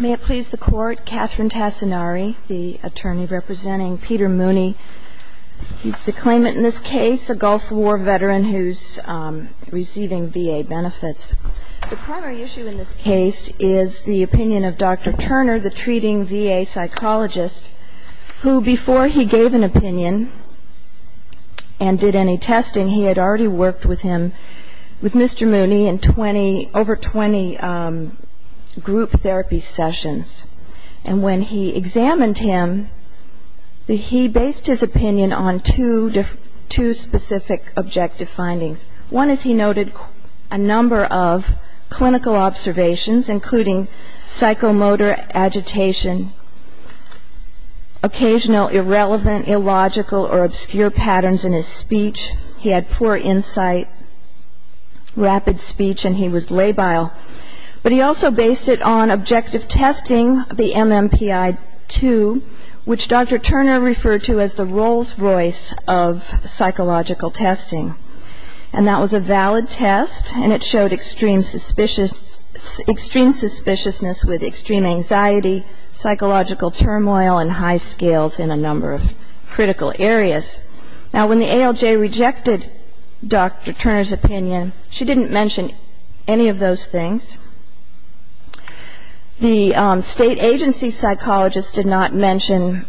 May it please the court, Catherine Tassinari, the attorney representing Peter Mooney. He's the claimant in this case, a Gulf War veteran who's receiving VA benefits. The primary issue in this case is the opinion of Dr. Turner, the treating VA psychologist, who, before he gave an opinion and did any testing, he had already worked with Mr. Mooney in over 20 group therapy sessions. And when he examined him, he based his opinion on two specific objective findings. One is he noted a number of clinical observations, including psychomotor agitation, occasional irrelevant, illogical or obscure patterns in his speech. He had poor insight, rapid speech, and he was labile. But he also based it on objective testing, the MMPI-2, which Dr. Turner referred to as the Rolls-Royce of psychological testing. And that was a valid test, and it showed extreme suspiciousness with extreme anxiety, psychological turmoil, and high scales in a number of critical areas. Now, when the ALJ rejected Dr. Turner's opinion, she didn't mention any of those things. The state agency psychologists did not mention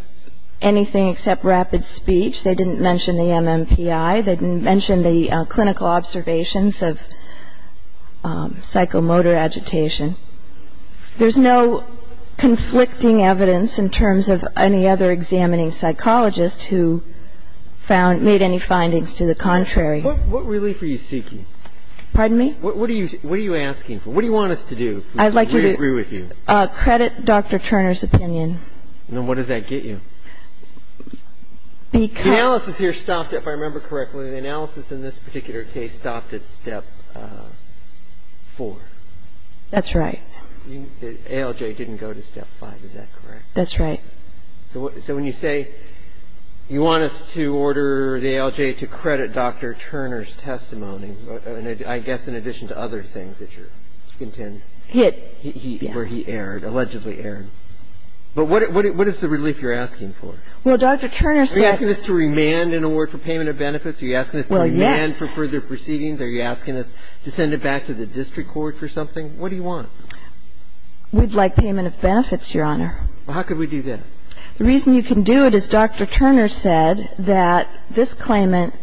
anything except rapid speech. They didn't mention the MMPI. They didn't mention the clinical observations of psychomotor agitation. There's no conflicting evidence in terms of any other examining psychologist who found or made any findings to the contrary. What relief are you seeking? Pardon me? What are you asking for? What do you want us to do? I'd like you to credit Dr. Turner's opinion. Then what does that get you? Because the analysis here stopped, if I remember correctly, the analysis in this particular case stopped at Step 4. That's right. The ALJ didn't go to Step 5. Is that correct? That's right. So when you say you want us to order the ALJ to credit Dr. Turner's testimony, I guess in addition to other things that you intend. Hit. Where he erred, allegedly erred. But what is the relief you're asking for? Well, Dr. Turner said. Are you asking us to remand an award for payment of benefits? Are you asking us to remand for further proceedings? Are you asking us to send it back to the district court for something? What do you want? We'd like payment of benefits, Your Honor. Well, how could we do that? The reason you can do it is Dr. Turner said that this claimant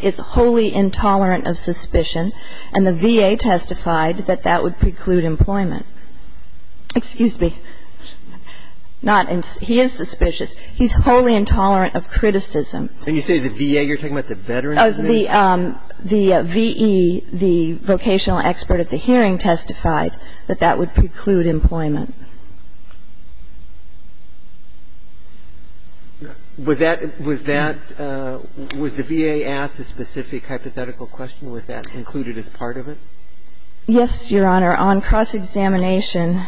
is wholly intolerant of suspicion, and the VA testified that that would preclude employment. Excuse me. He is suspicious. He's wholly intolerant of criticism. When you say the VA, you're talking about the veterans? The V.E., the vocational expert at the hearing testified that that would preclude employment. Was that, was that, was the VA asked a specific hypothetical question? Was that included as part of it? Yes, Your Honor. On cross-examination.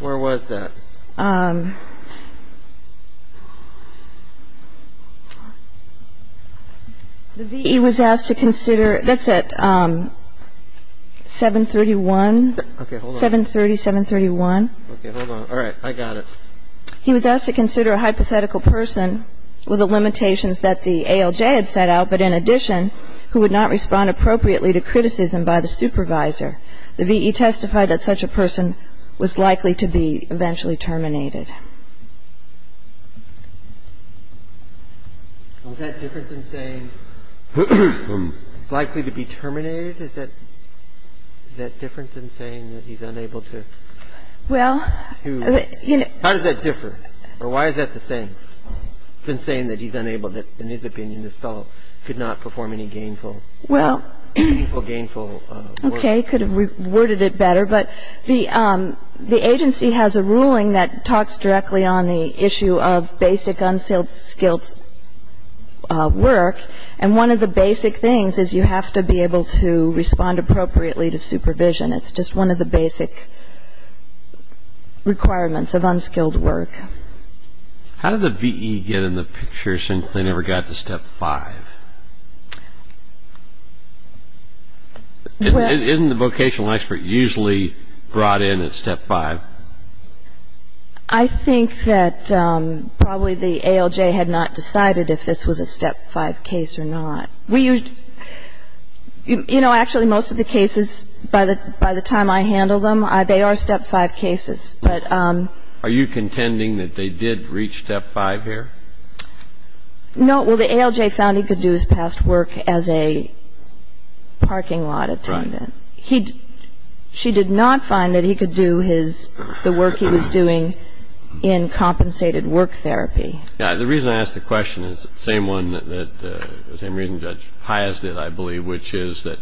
Where was that? The V.E. was asked to consider, that's at 731, 730, 731. Okay, hold on. All right. I got it. He was asked to consider a hypothetical person with the limitations that the ALJ had set out, but in addition, who would not respond appropriately to criticism by the supervisor. The V.E. testified that such a person was likely to be eventually terminated. Was that different than saying likely to be terminated? Is that, is that different than saying that he's unable to? Well, you know. How does that differ? Or why is that the same than saying that he's unable, that in his opinion, this fellow could not perform any gainful? Well. Or gainful work. Okay. Could have worded it better. But the agency has a ruling that talks directly on the issue of basic unskilled skills work, and one of the basic things is you have to be able to respond appropriately to supervision. It's just one of the basic requirements of unskilled work. How did the V.E. get in the picture since they never got to Step 5? Isn't the vocational expert usually brought in at Step 5? I think that probably the ALJ had not decided if this was a Step 5 case or not. You know, actually, most of the cases, by the time I handle them, they are Step 5 cases. Are you contending that they did reach Step 5 here? No. Well, the ALJ found he could do his past work as a parking lot attendant. Right. She did not find that he could do his, the work he was doing in compensated work therapy. The reason I ask the question is the same one that Judge Pias did, I believe, which is that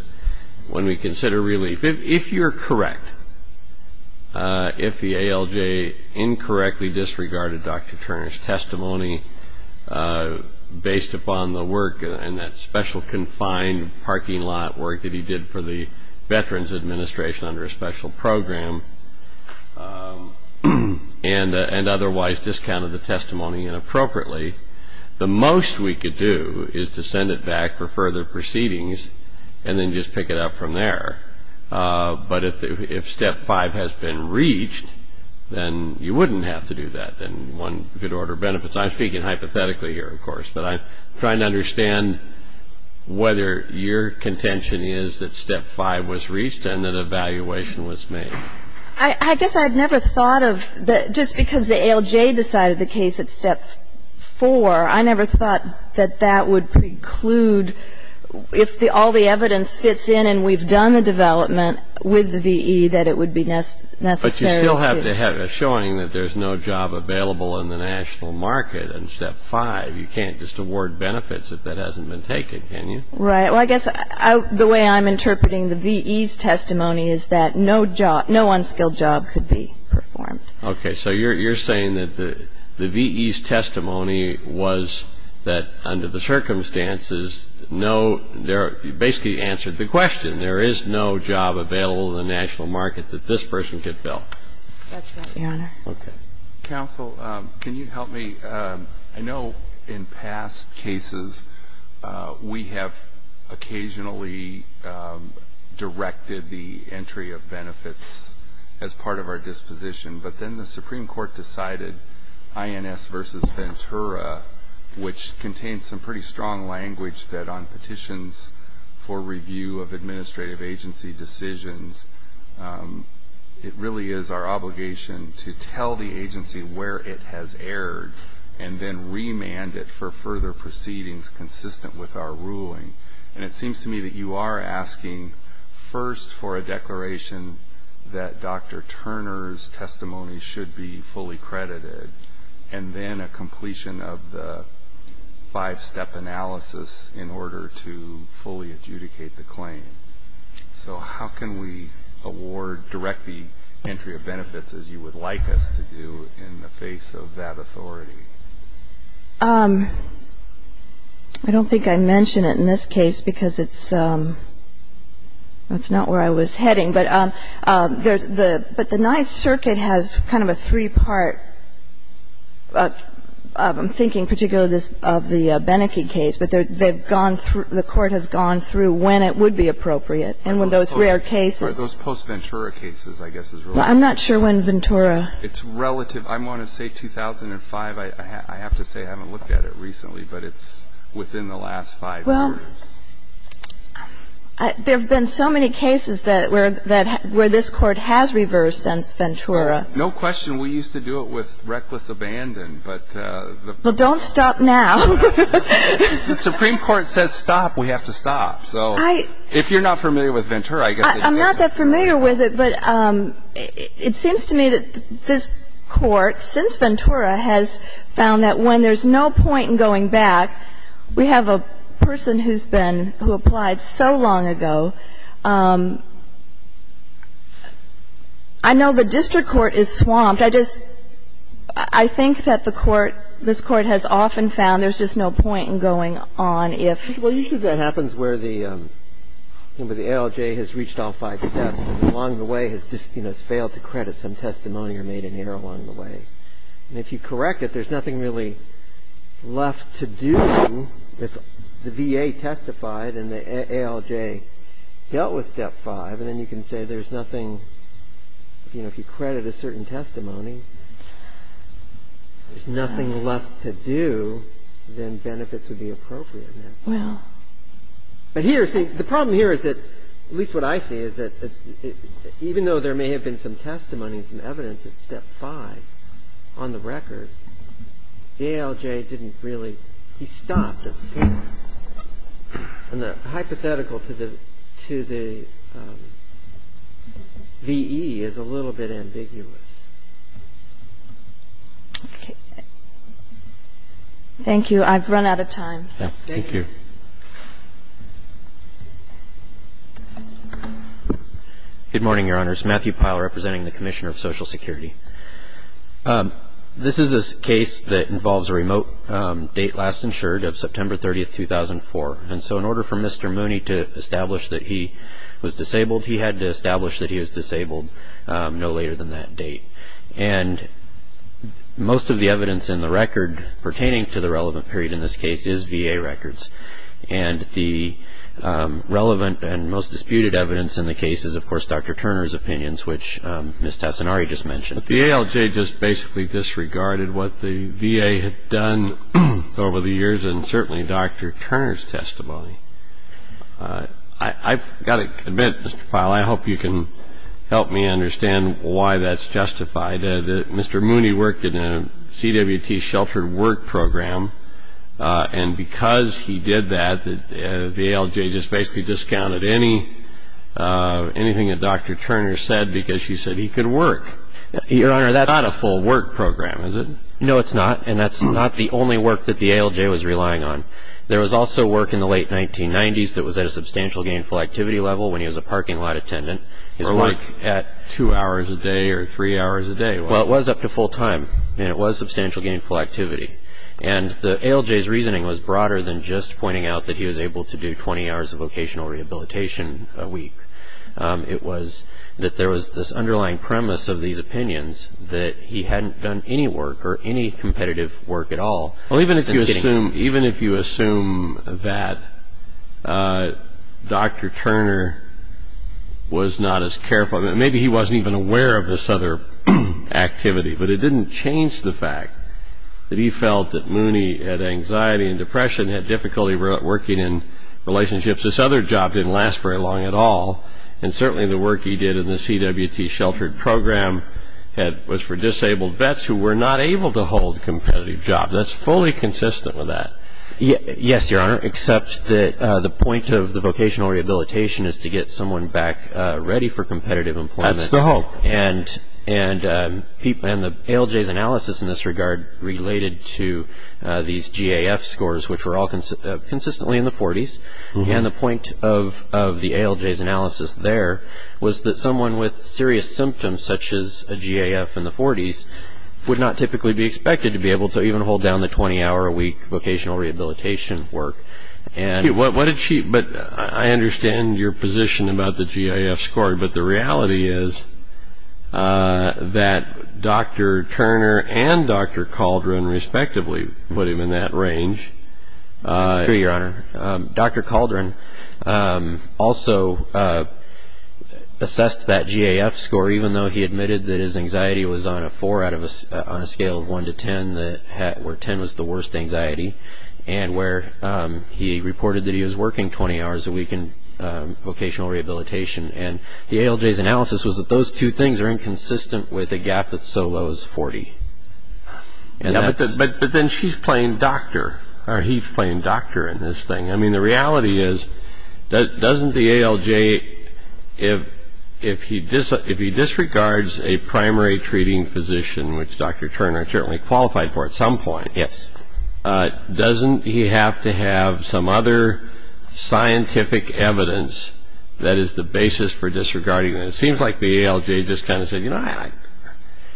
when we consider relief, if you're correct, if the ALJ incorrectly disregarded Dr. Turner's testimony based upon the work and that special confined parking lot work that he did for the Veterans Administration under a special program and otherwise discounted the testimony inappropriately, the most we could do is to send it back for further proceedings and then just pick it up from there. But if Step 5 has been reached, then you wouldn't have to do that. Then one could order benefits. But I'm trying to understand whether your contention is that Step 5 was reached and an evaluation was made. I guess I'd never thought of that. Just because the ALJ decided the case at Step 4, I never thought that that would preclude, if all the evidence fits in and we've done the development with the VE, that it would be necessary to. But you still have to have a showing that there's no job available in the national market in Step 5. You can't just award benefits if that hasn't been taken, can you? Right. Well, I guess the way I'm interpreting the VE's testimony is that no unskilled job could be performed. Okay. So you're saying that the VE's testimony was that under the circumstances no ‑‑ you basically answered the question. There is no job available in the national market that this person could fill. That's right, Your Honor. Okay. Counsel, can you help me? I know in past cases we have occasionally directed the entry of benefits as part of our disposition. But then the Supreme Court decided INS versus Ventura, which contains some pretty strong language that on petitions for review of administrative agency decisions, it really is our obligation to tell the agency where it has erred and then remand it for further proceedings consistent with our ruling. And it seems to me that you are asking first for a declaration that Dr. Turner's testimony should be fully credited and then a completion of the five‑step analysis in order to fully adjudicate the claim. So how can we award, direct the entry of benefits as you would like us to do in the face of that authority? I don't think I mentioned it in this case because it's not where I was heading. But there's the ‑‑ but the Ninth Circuit has kind of a three‑part, I'm thinking particularly of the Beneke case, but the court has gone through when it would be appropriate. And when those rare cases ‑‑ Those post-Ventura cases, I guess, is relative. I'm not sure when Ventura ‑‑ It's relative. I want to say 2005. I have to say I haven't looked at it recently, but it's within the last five years. Well, there have been so many cases where this court has reversed since Ventura. No question. We used to do it with reckless abandon, but the ‑‑ Well, don't stop now. The Supreme Court says stop, we have to stop. So if you're not familiar with Ventura, I guess ‑‑ I'm not that familiar with it, but it seems to me that this court, since Ventura, has found that when there's no point in going back, we have a person who's been, who applied so long ago. I know the district court is swamped. But I just ‑‑ I think that the court, this court has often found there's just no point in going on if ‑‑ Well, usually that happens where the ALJ has reached all five steps and along the way has failed to credit some testimony or made an error along the way. And if you correct it, there's nothing really left to do if the VA testified and the ALJ dealt with step five, and then you can say there's nothing, you know, if you credit a certain testimony, there's nothing left to do, then benefits would be appropriate. Well ‑‑ But here, see, the problem here is that, at least what I see, is that even though there may have been some testimony and some evidence at step five, on the record, the ALJ didn't really ‑‑ he stopped at step four. And the hypothetical to the VE is a little bit ambiguous. Okay. Thank you. I've run out of time. Thank you. Good morning, Your Honors. Matthew Pyle representing the Commissioner of Social Security. This is a case that involves a remote date last insured of September 30, 2004. And so in order for Mr. Mooney to establish that he was disabled, he had to establish that he was disabled no later than that date. And most of the evidence in the record pertaining to the relevant period in this case is VA records. And the relevant and most disputed evidence in the case is, of course, Dr. Turner's opinions, which Ms. Tesonari just mentioned. But the ALJ just basically disregarded what the VA had done over the years and certainly Dr. Turner's testimony. I've got to admit, Mr. Pyle, I hope you can help me understand why that's justified. Mr. Mooney worked in a CWT sheltered work program. And because he did that, the ALJ just basically discounted anything that Dr. Turner said because she said he could work. Your Honor, that's not a full work program, is it? No, it's not. And that's not the only work that the ALJ was relying on. There was also work in the late 1990s that was at a substantial gainful activity level when he was a parking lot attendant. Or like at two hours a day or three hours a day. Well, it was up to full time, and it was substantial gainful activity. And the ALJ's reasoning was broader than just pointing out that he was able to do 20 hours of vocational rehabilitation a week. It was that there was this underlying premise of these opinions that he hadn't done any work or any competitive work at all. Even if you assume that Dr. Turner was not as careful, maybe he wasn't even aware of this other activity, but it didn't change the fact that he felt that Mooney had anxiety and depression, had difficulty working in relationships. This other job didn't last very long at all. And certainly the work he did in the CWT sheltered program was for disabled vets who were not able to hold a competitive job. That's fully consistent with that. Yes, Your Honor, except that the point of the vocational rehabilitation is to get someone back ready for competitive employment. That's the hope. And the ALJ's analysis in this regard related to these GAF scores, which were all consistently in the 40s, and the point of the ALJ's analysis there was that someone with serious symptoms, such as a GAF in the 40s, would not typically be expected to be able to even hold down the 20-hour-a-week vocational rehabilitation work. But I understand your position about the GAF score, but the reality is that Dr. Turner and Dr. Caldron respectively put him in that range. That's true, Your Honor. Dr. Caldron also assessed that GAF score, even though he admitted that his anxiety was on a 4 on a scale of 1 to 10, where 10 was the worst anxiety, and where he reported that he was working 20 hours a week in vocational rehabilitation. And the ALJ's analysis was that those two things are inconsistent with a GAF that's so low as 40. But then she's playing doctor, or he's playing doctor in this thing. I mean, the reality is, doesn't the ALJ, if he disregards a primary treating physician, which Dr. Turner certainly qualified for at some point, doesn't he have to have some other scientific evidence that is the basis for disregarding that? It seems like the ALJ just kind of said, you know, that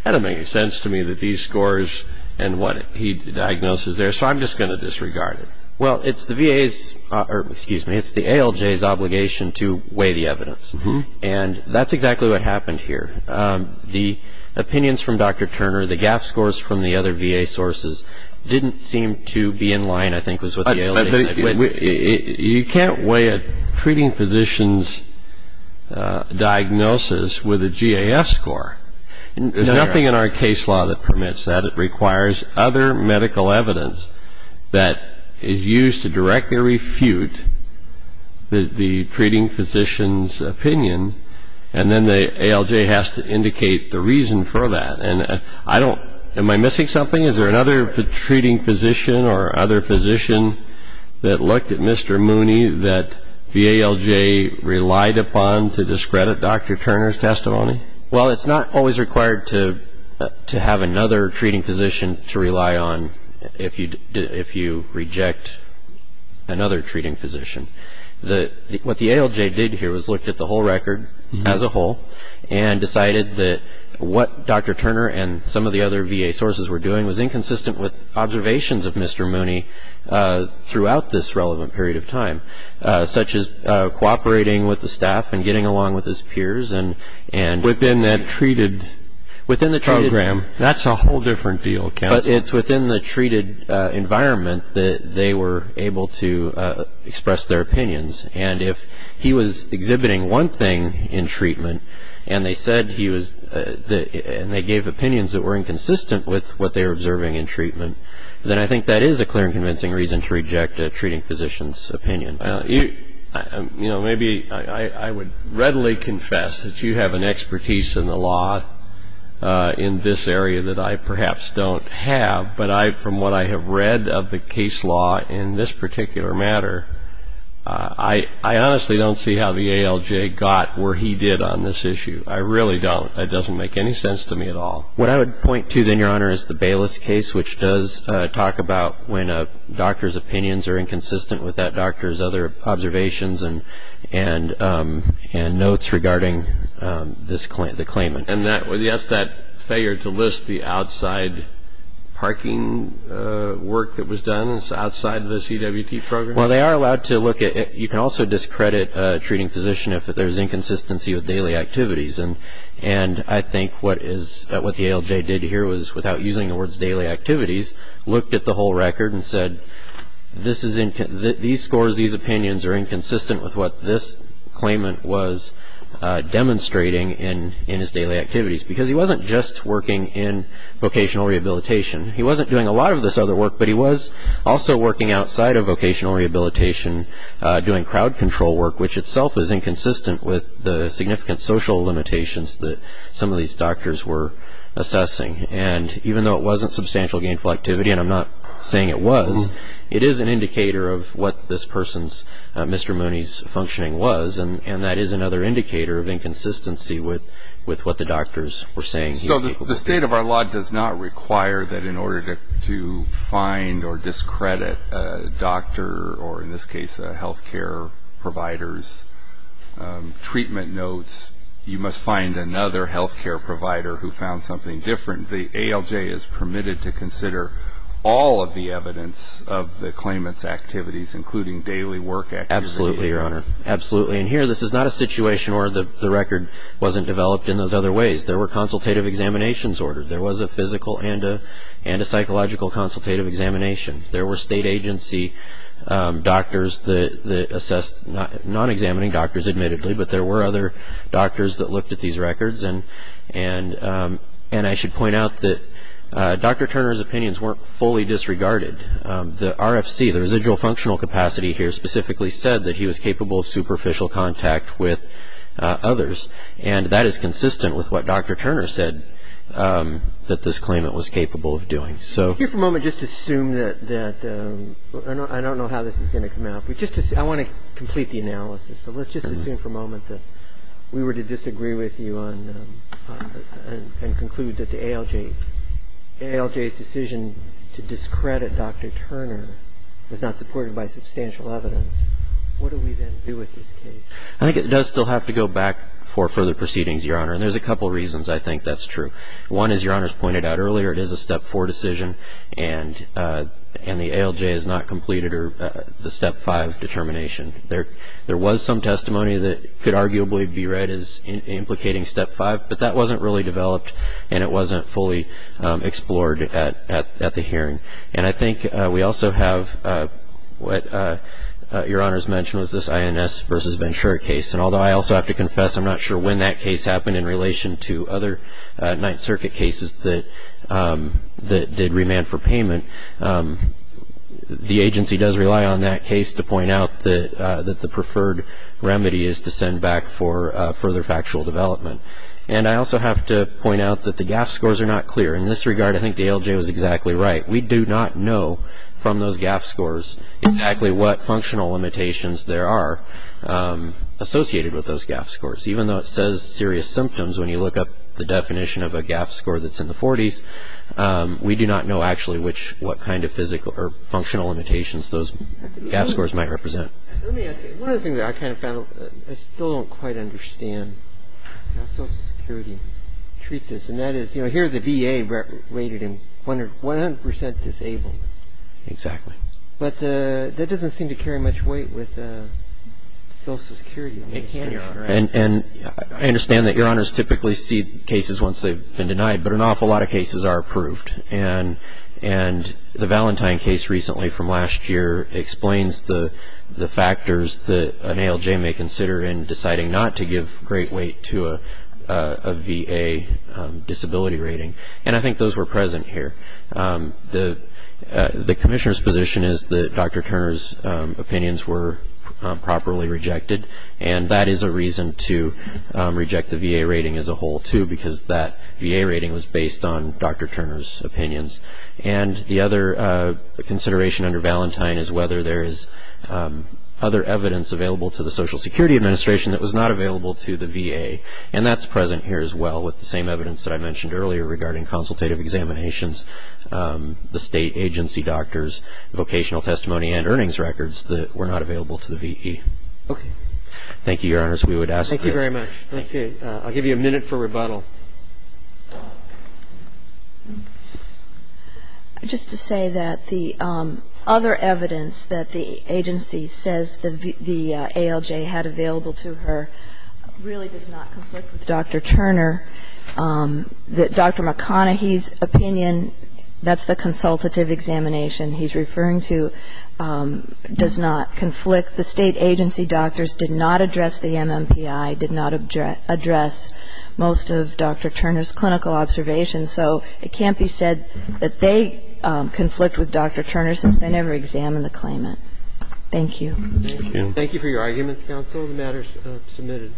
doesn't make any sense to me that these scores and what he diagnoses there, so I'm just going to disregard it. Well, it's the VA's, or excuse me, it's the ALJ's obligation to weigh the evidence. And that's exactly what happened here. The opinions from Dr. Turner, the GAF scores from the other VA sources didn't seem to be in line, I think was what the ALJ said. You can't weigh a treating physician's diagnosis with a GAF score. There's nothing in our case law that permits that. It requires other medical evidence that is used to directly refute the treating physician's opinion, and then the ALJ has to indicate the reason for that. Am I missing something? Is there another treating physician or other physician that looked at Mr. Mooney that the ALJ relied upon to discredit Dr. Turner's testimony? Well, it's not always required to have another treating physician to rely on if you reject another treating physician. What the ALJ did here was looked at the whole record as a whole and decided that what Dr. Turner and some of the other VA sources were doing was inconsistent with observations of Mr. Mooney throughout this relevant period of time, such as cooperating with the staff and getting along with his peers. Within that treated program. That's a whole different deal, counsel. But it's within the treated environment that they were able to express their opinions, and if he was exhibiting one thing in treatment and they gave opinions that were inconsistent with what they were observing in treatment, then I think that is a clear and convincing reason to reject a treating physician's opinion. Maybe I would readily confess that you have an expertise in the law in this area that I perhaps don't have, but from what I have read of the case law in this particular matter, I honestly don't see how the ALJ got where he did on this issue. I really don't. It doesn't make any sense to me at all. What I would point to, then, Your Honor, is the Bayless case, which does talk about when a doctor's opinions are inconsistent with that doctor's other observations and notes regarding the claimant. And, yes, that failure to list the outside parking work that was done outside the CWT program? Well, they are allowed to look at it. You can also discredit a treating physician if there's inconsistency with daily activities, and I think what the ALJ did here was, without using the words daily activities, looked at the whole record and said, these scores, these opinions are inconsistent with what this claimant was demonstrating in his daily activities, because he wasn't just working in vocational rehabilitation. He wasn't doing a lot of this other work, but he was also working outside of vocational rehabilitation doing crowd control work, which itself is inconsistent with the significant social limitations that some of these doctors were assessing. And even though it wasn't substantial gainful activity, and I'm not saying it was, it is an indicator of what this person's, Mr. Mooney's, functioning was, and that is another indicator of inconsistency with what the doctors were saying. So the state of our law does not require that in order to find or discredit a doctor, or in this case a health care provider's treatment notes, you must find another health care provider who found something different. The ALJ is permitted to consider all of the evidence of the claimant's activities, including daily work activities. Absolutely, Your Honor. Absolutely. And here this is not a situation where the record wasn't developed in those other ways. There were consultative examinations ordered. There was a physical and a psychological consultative examination. There were state agency doctors that assessed, non-examining doctors admittedly, but there were other doctors that looked at these records. And I should point out that Dr. Turner's opinions weren't fully disregarded. The RFC, the residual functional capacity here, specifically said that he was capable of superficial contact with others, and that is consistent with what Dr. Turner said that this claimant was capable of doing. If you could for a moment just assume that, I don't know how this is going to come out, I want to complete the analysis. So let's just assume for a moment that we were to disagree with you and conclude that the ALJ's decision to discredit Dr. Turner was not supported by substantial evidence. What do we then do with this case? I think it does still have to go back for further proceedings, Your Honor, and there's a couple reasons I think that's true. One is, Your Honor has pointed out earlier, it is a step four decision, and the ALJ has not completed the step five determination. There was some testimony that could arguably be read as implicating step five, but that wasn't really developed, and it wasn't fully explored at the hearing. And I think we also have what Your Honor's mentioned was this INS versus Ventura case, and although I also have to confess I'm not sure when that case happened in relation to other Ninth Circuit cases that did remand for payment, the agency does rely on that case to point out that the preferred remedy is to send back for further factual development. And I also have to point out that the GAF scores are not clear. In this regard, I think the ALJ was exactly right. We do not know from those GAF scores exactly what functional limitations there are associated with those GAF scores. Even though it says serious symptoms, when you look up the definition of a GAF score that's in the 40s, we do not know actually what kind of physical or functional limitations those GAF scores might represent. Let me ask you, one other thing that I kind of found, I still don't quite understand how Social Security treats this, and that is, you know, here the VA rated him 100% disabled. Exactly. But that doesn't seem to carry much weight with Social Security. It can, Your Honor. And I understand that Your Honors typically see cases once they've been denied, but an awful lot of cases are approved. And the Valentine case recently from last year explains the factors that an ALJ may consider in deciding not to give great weight to a VA disability rating. And I think those were present here. The Commissioner's position is that Dr. Turner's opinions were properly rejected, and that is a reason to reject the VA rating as a whole, too, because that VA rating was based on Dr. Turner's opinions. And the other consideration under Valentine is whether there is other evidence available to the Social Security Administration that was not available to the VA, and that's present here as well with the same evidence that I mentioned earlier regarding consultative examinations, the State agency doctors, vocational testimony, and earnings records that were not available to the VE. Okay. Thank you, Your Honors. We would ask that. Thank you very much. I'll give you a minute for rebuttal. Just to say that the other evidence that the agency says the ALJ had available to her really does not conflict with Dr. Turner, that Dr. McConaughey's opinion, that's the consultative examination he's referring to, does not conflict. The State agency doctors did not address the MMPI, did not address most of Dr. Turner's clinical observations. So it can't be said that they conflict with Dr. Turner since they never examined the claimant. Thank you. Thank you. Thank you for your arguments, counsel. The matter is submitted.